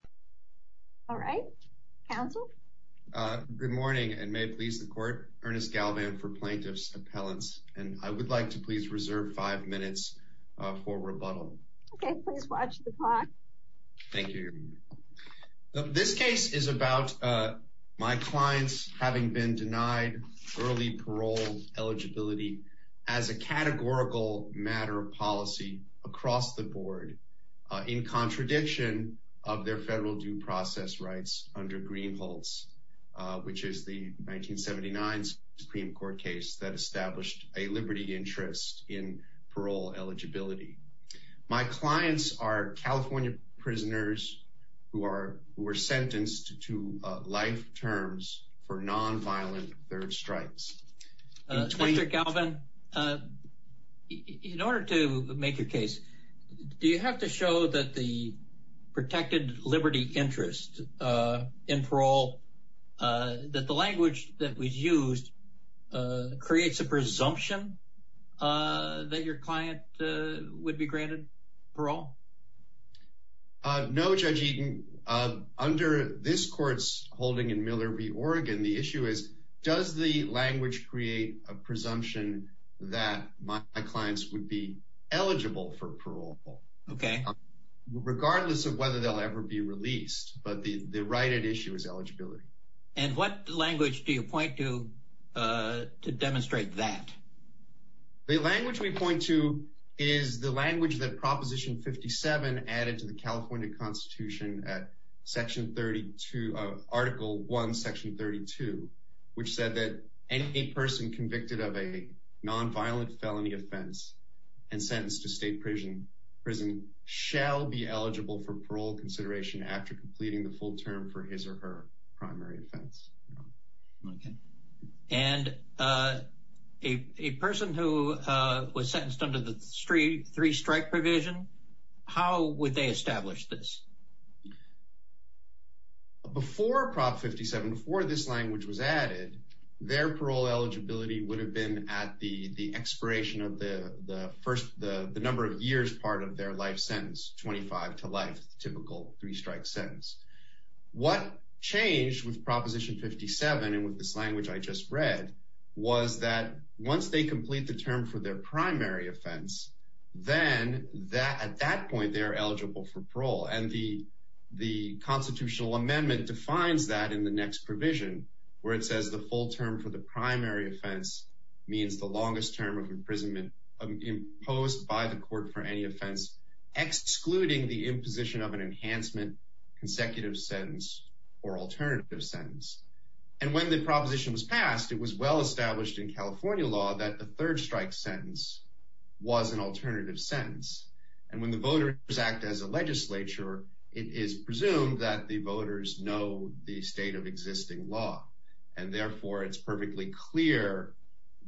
Ernest Galvan, Plaintiff's Appellant Interest in Parole Eligibility. My clients are California prisoners who were sentenced to life terms for nonviolent third stripes. In order to make your case, do you have to show that the protected liberty interest in parole, that the language that was used creates a presumption that your client would be granted parole? No, Judge Eaton. Under this court's holding in Miller v. Oregon, the issue is does the language create a presumption that my clients would be eligible for parole? Okay. Regardless of whether they'll ever be released, but the right at issue is eligibility. And what language do you point to to demonstrate that? The language we point to is the language that Proposition 57 added to the California Constitution at Article 1, Section 32, which said that any person convicted of a nonviolent felony offense and sentenced to state prison shall be eligible for parole consideration after completing the full term for his or her primary offense. Okay. And a person who was sentenced under the three-strike provision, how would they establish this? Before Prop 57, before this language was added, their parole eligibility would have been at the expiration of the number of years part of their life sentence, 25 to life, typical three-strike sentence. What changed with Proposition 57 and with this language I just read was that once they complete the term for their primary offense, then at that point they are eligible for parole. And the constitutional amendment defines that in the next provision where it says the full term for the primary offense means the longest term of imprisonment imposed by the court for any offense, excluding the imposition of an enhancement consecutive sentence or alternative sentence. And when the proposition was passed, it was well established in California law that the third-strike sentence was an alternative sentence. And when the voters act as a legislature, it is presumed that the voters know the state of existing law. And therefore, it's perfectly clear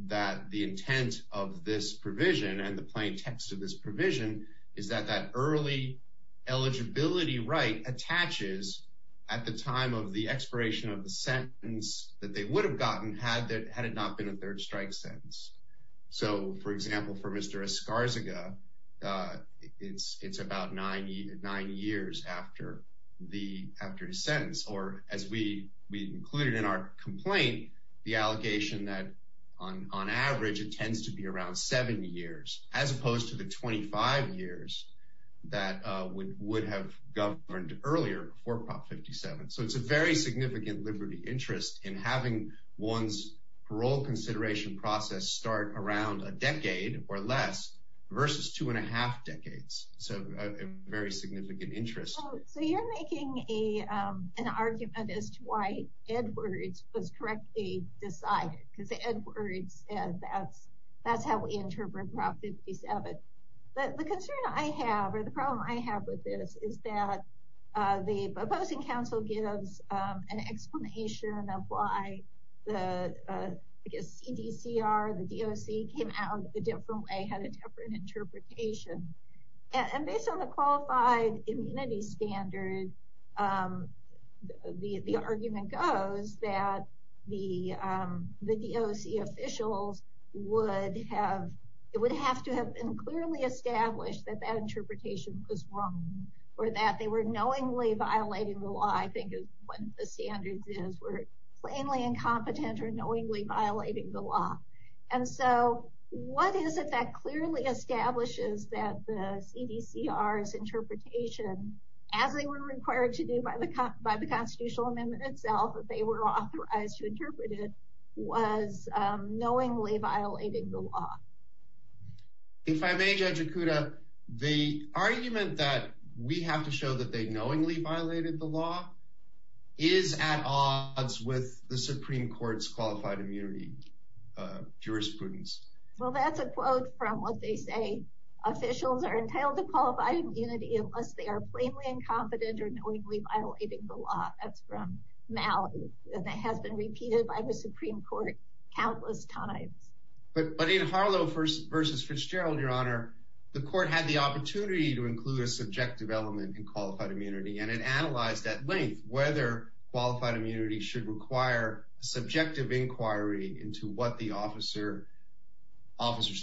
that the intent of this provision and the plain text of this provision is that that early eligibility right attaches at the time of the expiration of the sentence that they would have gotten had it not been a third-strike sentence. So, for example, for Mr. Escarzaga, it's about nine years after his sentence. Or as we included in our complaint, the allegation that on average it tends to be around seven years as opposed to the 25 years that would have governed earlier for Prop 57. So it's a very significant liberty interest in having one's parole consideration process start around a decade or less versus two and a half decades. So a very significant interest. So you're making an argument as to why Edwards was correctly decided. Because Edwards, that's how we interpret Prop 57. The concern I have or the problem I have with this is that the opposing counsel gives an explanation of why the CDCR, the DOC, came out a different way, had a different interpretation. And based on the qualified immunity standard, the argument goes that the DOC officials would have to have clearly established that that interpretation was wrong or that they were knowingly violating the law. I think one of the standards is we're plainly incompetent or knowingly violating the law. And so what is it that clearly establishes that the CDCR's interpretation, as they were required to do by the Constitutional Amendment itself, that they were authorized to interpret it, was knowingly violating the law? If I may, Judge Okuda, the argument that we have to show that they knowingly violated the law is at odds with the Supreme Court's qualified immunity jurisprudence. Well, that's a quote from what they say. Officials are entitled to qualified immunity unless they are plainly incompetent or knowingly violating the law. That's from Mallory. And that has been repeated by the Supreme Court countless times. But in Harlow v. Fitzgerald, Your Honor, the court had the opportunity to include a subjective element in qualified immunity. And it analyzed at length whether qualified immunity should require subjective inquiry into what the officer's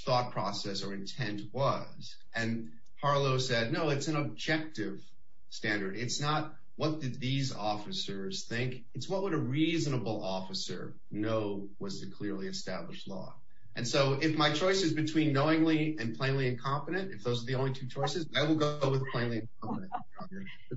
thought process or intent was. And Harlow said, no, it's an objective standard. It's not what did these officers think. It's what would a reasonable officer know was the clearly established law. And so if my choice is between knowingly and plainly incompetent, if those are the only two choices, I will go with plainly incompetent.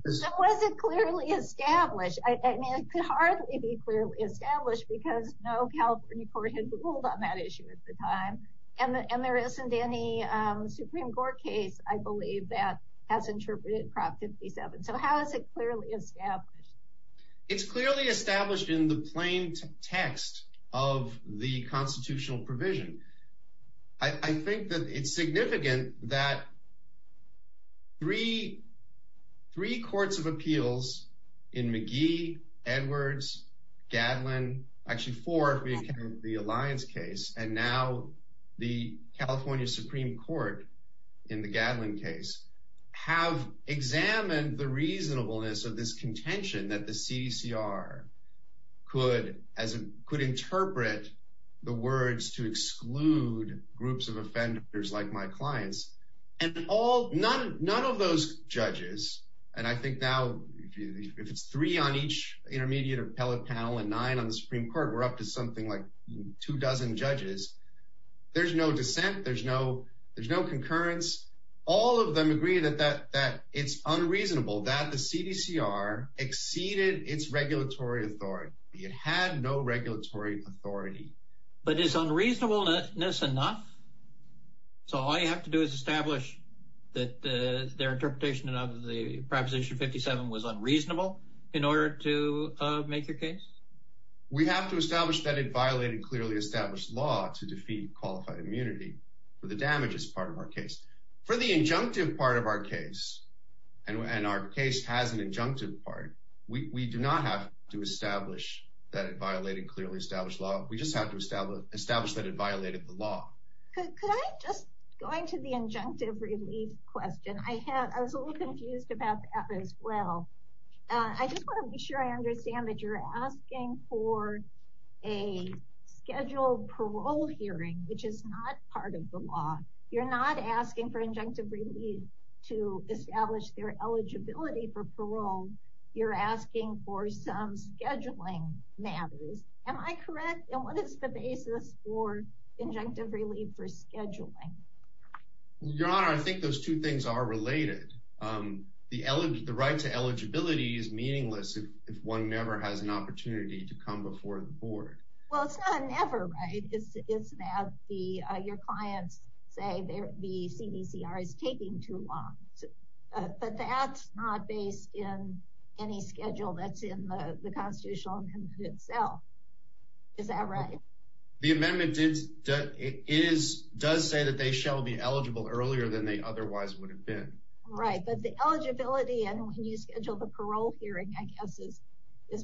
So was it clearly established? I mean, it could hardly be clearly established because no California court had ruled on that issue at the time. And there isn't any Supreme Court case, I believe, that has interpreted Prop 57. So how is it clearly established? It's clearly established in the plain text of the constitutional provision. I think that it's significant that three courts of appeals in McGee, Edwards, Gadlin, actually four if we count the Alliance case, and now the California Supreme Court in the Gadlin case have examined the reasonableness of this contention that the CDCR could interpret the words to exclude groups of offenders like my clients. None of those judges, and I think now if it's three on each intermediate appellate panel and nine on the Supreme Court, we're up to something like two dozen judges. There's no dissent. There's no concurrence. All of them agree that it's unreasonable that the CDCR exceeded its regulatory authority. It had no regulatory authority. But is unreasonableness enough? So all you have to do is establish that their interpretation of the Proposition 57 was unreasonable in order to make your case? We have to establish that it violated clearly established law to defeat qualified immunity for the damages part of our case. For the injunctive part of our case, and our case has an injunctive part, we do not have to establish that it violated clearly established law. We just have to establish that it violated the law. Could I just go into the injunctive relief question? I was a little confused about that as well. I just want to be sure I understand that you're asking for a scheduled parole hearing, which is not part of the law. You're not asking for injunctive relief to establish their eligibility for parole. You're asking for some scheduling matters. Am I correct? And what is the basis for injunctive relief for scheduling? Your Honor, I think those two things are related. The right to eligibility is meaningless if one never has an opportunity to come before the board. Well, it's not a never, right? It's that your clients say the CDCR is taking too long. But that's not based in any schedule that's in the constitutional amendment itself. Is that right? The amendment does say that they shall be eligible earlier than they otherwise would have been. Right, but the eligibility and when you schedule the parole hearing I guess is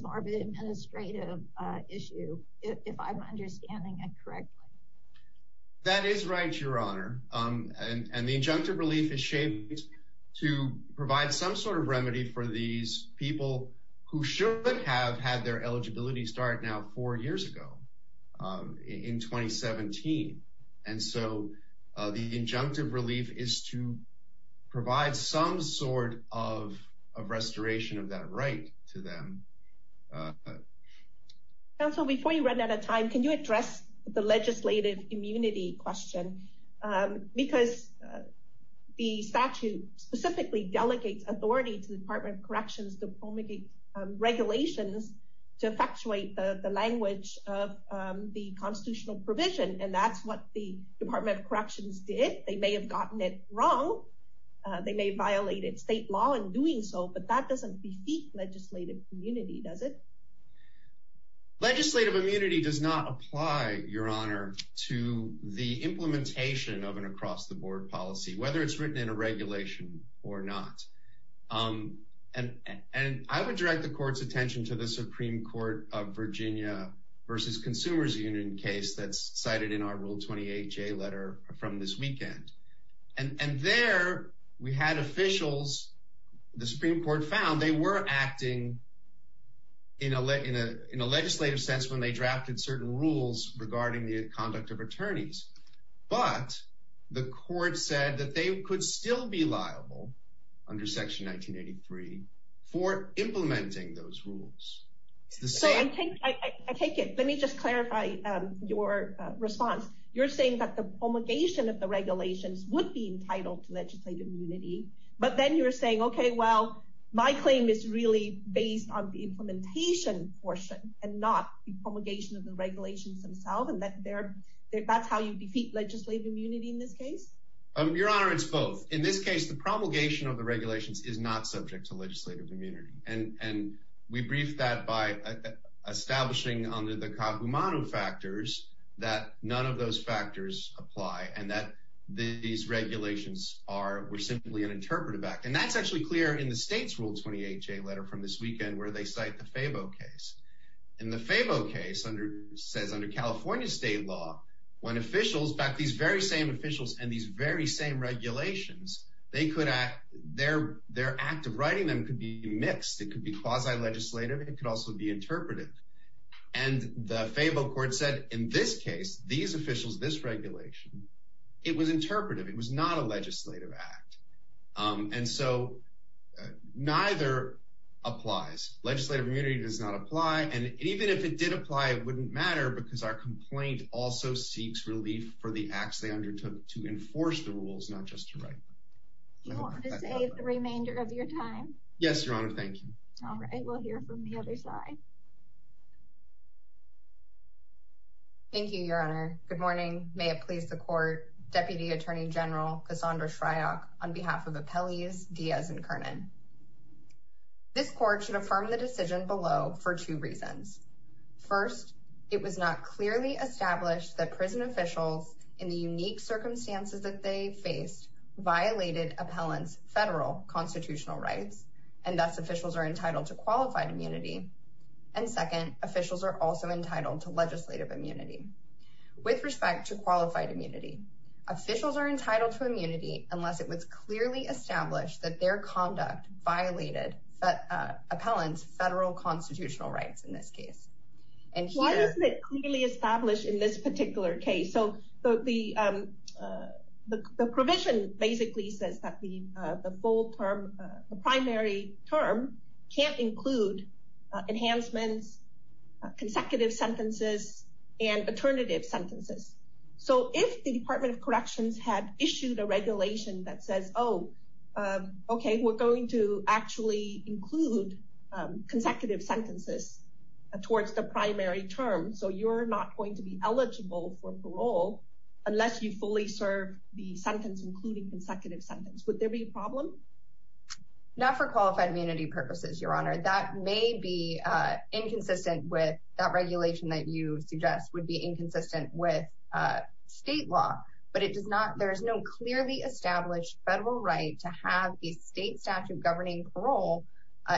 more of an administrative issue, if I'm understanding it correctly. That is right, Your Honor. And the injunctive relief is shaped to provide some sort of remedy for these people who should have had their eligibility start now four years ago in 2017. And so the injunctive relief is to provide some sort of restoration of that right to them. Counsel, before you run out of time, can you address the legislative immunity question? Because the statute specifically delegates authority to the Department of Corrections to promulgate regulations to effectuate the language of the constitutional provision. And that's what the Department of Corrections did. They may have gotten it wrong. They may have violated state law in doing so. But that doesn't defeat legislative immunity, does it? Legislative immunity does not apply, Your Honor, to the implementation of an across-the-board policy, whether it's written in a regulation or not. And I would direct the Court's attention to the Supreme Court of Virginia versus Consumers Union case that's cited in our Rule 28J letter from this weekend. And there we had officials, the Supreme Court found they were acting in a legislative sense when they drafted certain rules regarding the conduct of attorneys. But the Court said that they could still be liable under Section 1983 for implementing those rules. So I take it. Let me just clarify your response. You're saying that the promulgation of the regulations would be entitled to legislative immunity. But then you're saying, okay, well, my claim is really based on the implementation portion and not the promulgation of the regulations themselves. And that's how you defeat legislative immunity in this case? Your Honor, it's both. In this case, the promulgation of the regulations is not subject to legislative immunity. And we briefed that by establishing under the Kagumaru factors that none of those factors apply and that these regulations were simply an interpretive act. And that's actually clear in the State's Rule 28J letter from this weekend where they cite the Fabo case. And the Fabo case says, under California state law, when officials, in fact, these very same officials and these very same regulations, their act of writing them could be mixed. It could be quasi-legislative. It could also be interpretive. And the Fabo court said in this case, these officials, this regulation, it was interpretive. It was not a legislative act. And so neither applies. Legislative immunity does not apply. And even if it did apply, it wouldn't matter because our complaint also seeks relief for the acts they undertook to enforce the rules, not just to write them. Do you want to save the remainder of your time? Yes, Your Honor. Thank you. All right. We'll hear from the other side. Thank you, Your Honor. Good morning. May it please the Court, Deputy Attorney General Cassandra Shryock, on behalf of Appellees Diaz and Kernan. This court should affirm the decision below for two reasons. First, it was not clearly established that prison officials, in the unique circumstances that they faced, violated appellants' federal constitutional rights, and thus officials are entitled to qualified immunity. And second, officials are also entitled to legislative immunity. With respect to qualified immunity, officials are entitled to immunity unless it was clearly established that their conduct violated appellants' federal constitutional rights in this case. Why isn't it clearly established in this particular case? The provision basically says that the primary term can't include enhancements, consecutive sentences, and alternative sentences. So if the Department of Corrections had issued a regulation that says, oh, okay, we're going to actually include consecutive sentences towards the primary term, so you're not going to be eligible for parole unless you fully serve the sentence, including consecutive sentences. Would there be a problem? Not for qualified immunity purposes, Your Honor. That may be inconsistent with that regulation that you suggest would be inconsistent with state law. But there is no clearly established federal right to have a state statute governing parole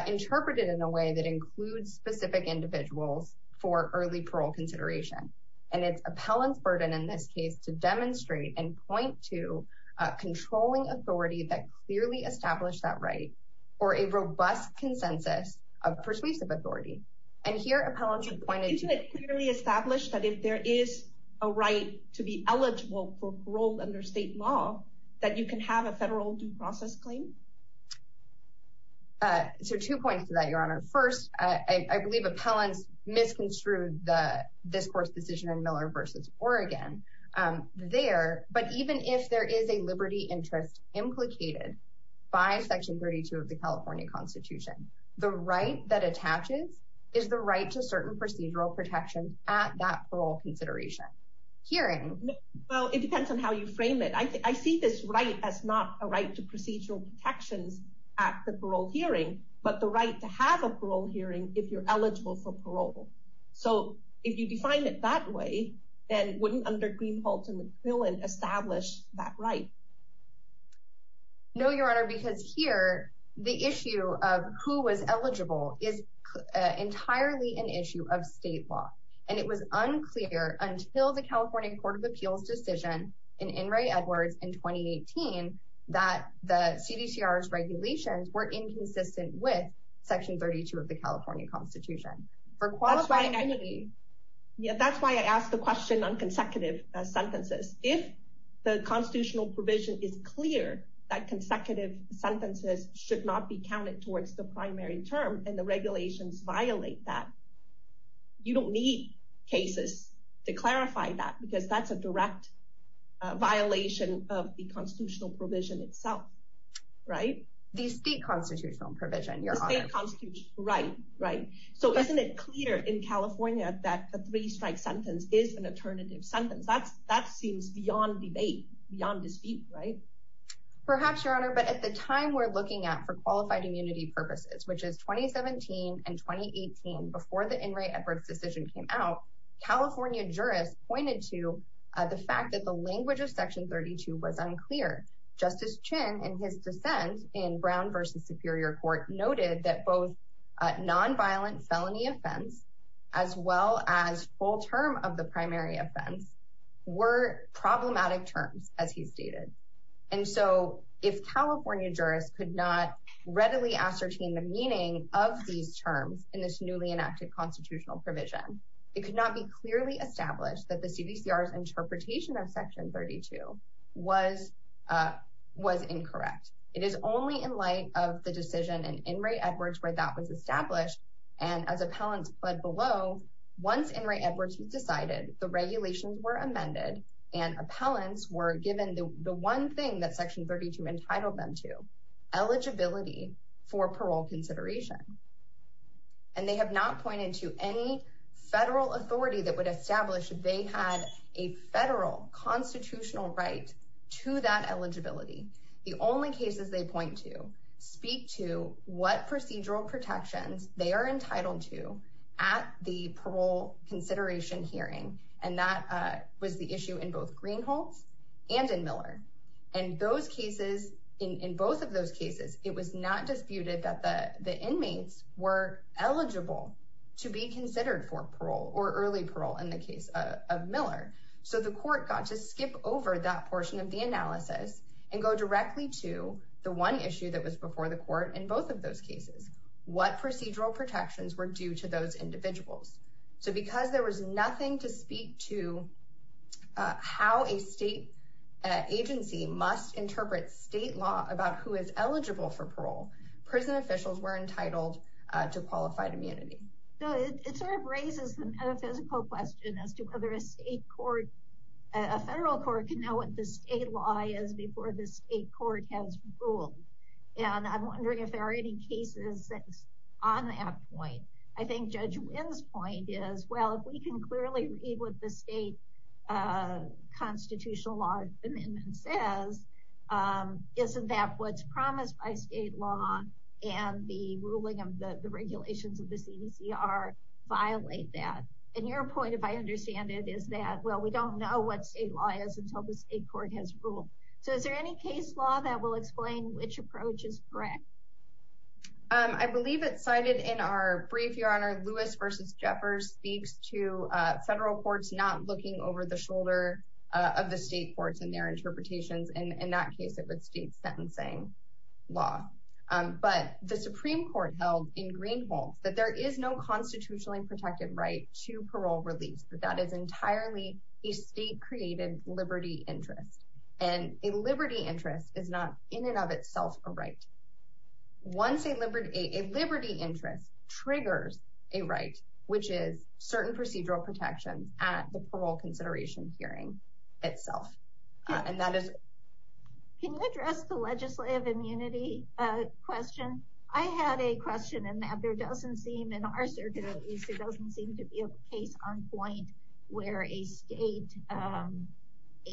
interpreted in a way that includes specific individuals for early parole consideration. And it's appellants' burden in this case to demonstrate and point to a controlling authority that clearly established that right, or a robust consensus of persuasive authority. And here appellants are pointed to- Isn't it clearly established that if there is a right to be eligible for parole under state law, that you can have a federal due process claim? So two points to that, Your Honor. First, I believe appellants misconstrued the discourse decision in Miller v. Oregon there. But even if there is a liberty interest implicated by Section 32 of the California Constitution, the right that attaches is the right to certain procedural protections at that parole consideration. Hearing- Well, it depends on how you frame it. I see this right as not a right to procedural protections at the parole hearing, but the right to have a parole hearing if you're eligible for parole. So if you define it that way, then wouldn't under Green, Holtz, and McQuillan establish that right? No, Your Honor, because here the issue of who was eligible is entirely an issue of state law. And it was unclear until the California Court of Appeals decision in Inouye Edwards in 2018 that the CDCR's regulations were inconsistent with Section 32 of the California Constitution. For qualified- Yeah, that's why I asked the question on consecutive sentences. If the constitutional provision is clear that consecutive sentences should not be counted towards the primary term and the regulations violate that, you don't need cases to clarify that because that's a direct violation of the constitutional provision itself. Right? The state constitutional provision, Your Honor. Right, right. So isn't it clear in California that the three-strike sentence is an alternative sentence? That seems beyond debate, beyond dispute, right? Perhaps, Your Honor, but at the time we're looking at for qualified immunity purposes, which is 2017 and 2018, before the Inouye Edwards decision came out, California jurists pointed to the fact that the language of Section 32 was unclear. Justice Chin, in his dissent in Brown v. Superior Court, noted that both nonviolent felony offense as well as full term of the primary offense were problematic terms, as he stated. And so if California jurists could not readily ascertain the meaning of these terms in this newly enacted constitutional provision, it could not be clearly established that the CDCR's interpretation of Section 32 was incorrect. It is only in light of the decision in Inouye Edwards where that was established and as appellants pled below, once Inouye Edwards was decided, the regulations were amended and appellants were given the one thing that Section 32 entitled them to, eligibility for parole consideration. And they have not pointed to any federal authority that would establish they had a federal constitutional right to that eligibility. The only cases they point to speak to what procedural protections they are entitled to at the parole consideration hearing, and that was the issue in both Greenhalt and in Miller. And those cases, in both of those cases, it was not disputed that the inmates were eligible to be considered for parole or early parole in the case of Miller. So the court got to skip over that portion of the analysis and go directly to the one issue that was before the court in both of those cases, what procedural protections were due to those individuals. So because there was nothing to speak to how a state agency must interpret state law about who is eligible for parole, prison officials were entitled to qualified immunity. It sort of raises a metaphysical question as to whether a federal court can know what the state law is before the state court has ruled. And I'm wondering if there are any cases on that point. I think Judge Wynn's point is, well, if we can clearly read what the state constitutional law amendment says, isn't that what's promised by state law and the ruling of the regulations of the CDCR violate that? And your point, if I understand it, is that, well, we don't know what state law is until the state court has ruled. So is there any case law that will explain which approach is correct? I believe it's cited in our brief. Your Honor, Lewis v. Jeffers speaks to federal courts not looking over the shoulder of the state courts and their interpretations. And in that case, it would state sentencing law. But the Supreme Court held in Greenhalgh that there is no constitutionally protected right to parole release. That is entirely a state-created liberty interest. And a liberty interest is not in and of itself a right. A liberty interest triggers a right, which is certain procedural protections at the parole consideration hearing itself. Can you address the legislative immunity question? I had a question in that there doesn't seem, in our circumstances, there doesn't seem to be a case on point where a state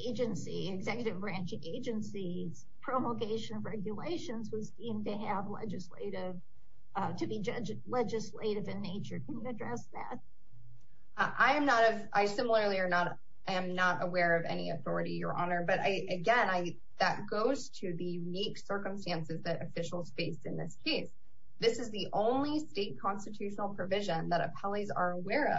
agency, executive branch agency's promulgation of regulations was deemed to have legislative, to be legislative in nature. Can you address that? I am not, I similarly am not aware of any authority, Your Honor. But again, that goes to the unique circumstances that officials face in this case. This is the only state constitutional provision that appellees are aware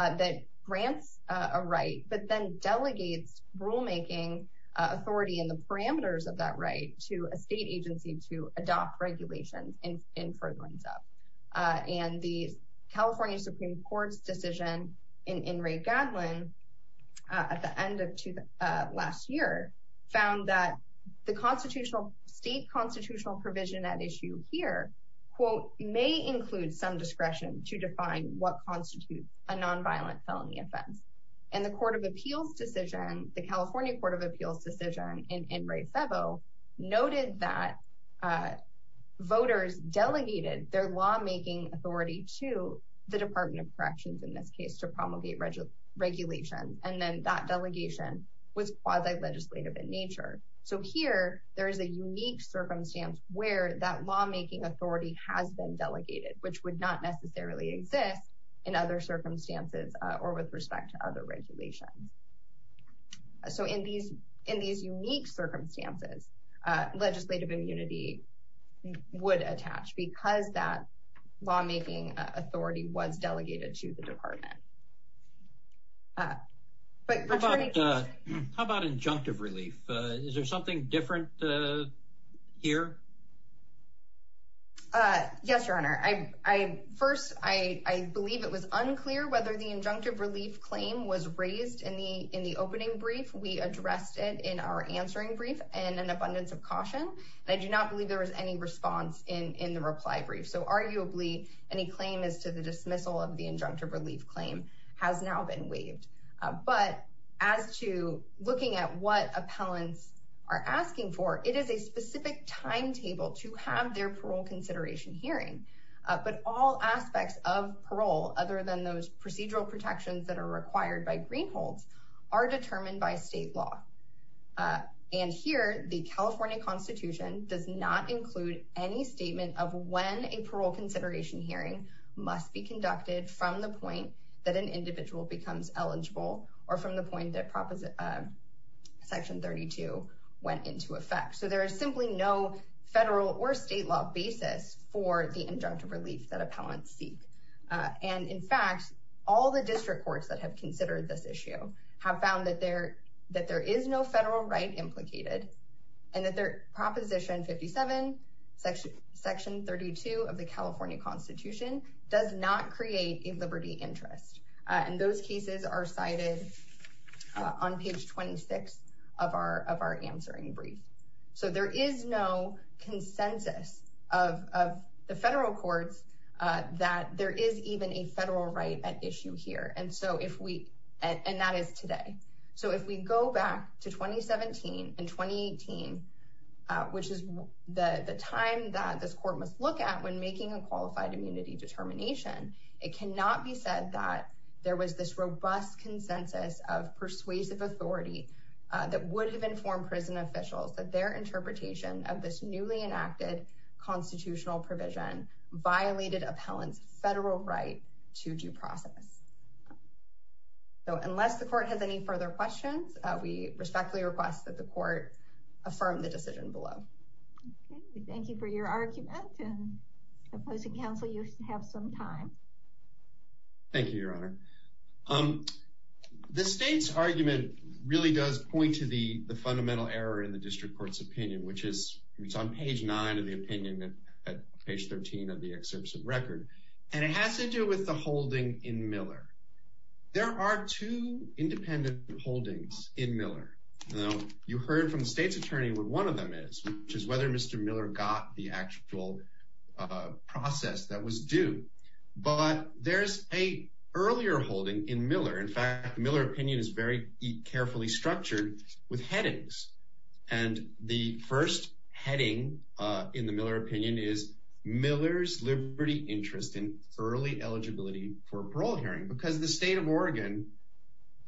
of that grants a right, but then delegates rulemaking authority and the parameters of that right to a state agency to adopt regulations in furtherance up. And the California Supreme Court's decision in Ray Gadlin at the end of last year found that the constitutional, state constitutional provision at issue here, quote, may include some discretion to define what constitutes a nonviolent felony offense. And the Court of Appeals decision, the California Court of Appeals decision in Ray Febo noted that voters delegated their lawmaking authority to the Department of Corrections in this case to promulgate regulations. And then that delegation was quasi legislative in nature. So here there is a unique circumstance where that lawmaking authority has been delegated, which would not necessarily exist in other circumstances or with respect to other regulations. So in these, in these unique circumstances, legislative immunity would attach because that lawmaking authority was delegated to the department. But how about injunctive relief? Is there something different here? Yes, Your Honor. I first I believe it was unclear whether the injunctive relief claim was raised in the in the opening brief. We addressed it in our answering brief and an abundance of caution. And I do not believe there was any response in the reply brief. So arguably any claim is to the dismissal of the injunctive relief claim has now been waived. But as to looking at what appellants are asking for, it is a specific timetable to have their parole consideration hearing. But all aspects of parole, other than those procedural protections that are required by greenholds, are determined by state law. And here the California Constitution does not include any statement of when a parole consideration hearing must be conducted from the point that an individual becomes eligible or from the point that Proposition Section 32 went into effect. So there is simply no federal or state law basis for the injunctive relief that appellants seek. And in fact, all the district courts that have considered this issue have found that there that there is no federal right implicated and that their Proposition 57 Section Section 32 of the California Constitution does not create a liberty interest. And those cases are cited on page 26 of our of our answering brief. So there is no consensus of the federal courts that there is even a federal right at issue here. And so if we and that is today. So if we go back to 2017 and 2018, which is the time that this court must look at when making a qualified immunity determination, it cannot be said that there was this robust consensus of persuasive authority that would have informed prison officials that their interpretation of this newly enacted constitutional provision violated appellants federal right to due process. So unless the court has any further questions, we respectfully request that the court affirm the decision below. Thank you for your argument and opposing counsel. You have some time. Thank you, Your Honor. The state's argument really does point to the fundamental error in the district court's opinion, which is it's on page nine of the opinion that page 13 of the exception record. And it has to do with the holding in Miller. There are two independent holdings in Miller. You heard from the state's attorney where one of them is, which is whether Mr. Miller got the actual process that was due. But there's a earlier holding in Miller. In fact, Miller opinion is very carefully structured with headings. And the first heading in the Miller opinion is Miller's liberty interest in early eligibility for parole hearing because the state of Oregon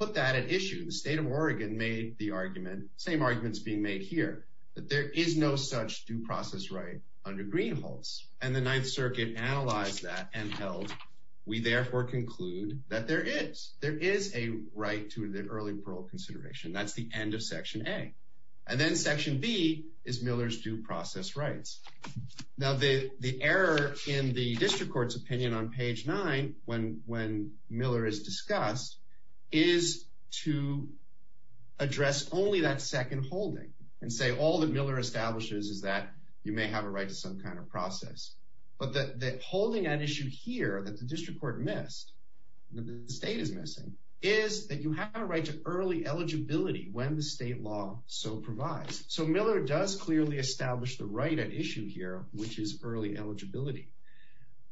put that at issue. The state of Oregon made the argument. Same arguments being made here that there is no such due process right under green holes. And the Ninth Circuit analyzed that and held. We therefore conclude that there is there is a right to the early parole consideration. That's the end of Section A. And then Section B is Miller's due process rights. Now, the error in the district court's opinion on page nine, when Miller is discussed, is to address only that second holding. And say all that Miller establishes is that you may have a right to some kind of process. But the holding at issue here that the district court missed, that the state is missing, is that you have a right to early eligibility when the state law so provides. So Miller does clearly establish the right at issue here, which is early eligibility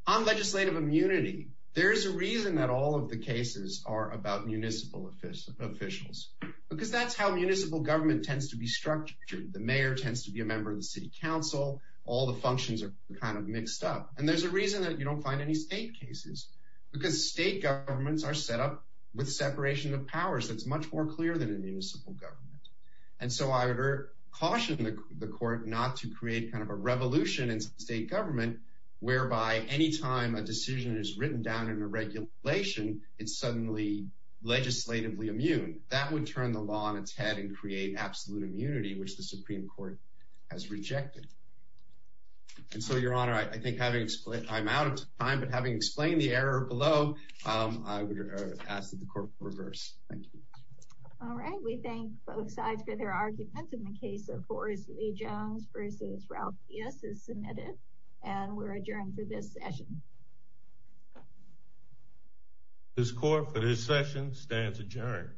on legislative immunity. There is a reason that all of the cases are about municipal officials, officials, because that's how municipal government tends to be structured. The mayor tends to be a member of the city council. All the functions are kind of mixed up. And there's a reason that you don't find any state cases because state governments are set up with separation of powers. That's much more clear than a municipal government. And so I caution the court not to create kind of a revolution in state government, whereby any time a decision is written down in a regulation, it's suddenly legislatively immune. That would turn the law on its head and create absolute immunity, which the Supreme Court has rejected. And so, Your Honor, I think I'm out of time, but having explained the error below, I would ask that the court reverse. Thank you. All right. We thank both sides for their arguments in the case of Forrest Lee Jones versus Ralph Pierce is submitted and we're adjourned for this session. This court for this session stands adjourned.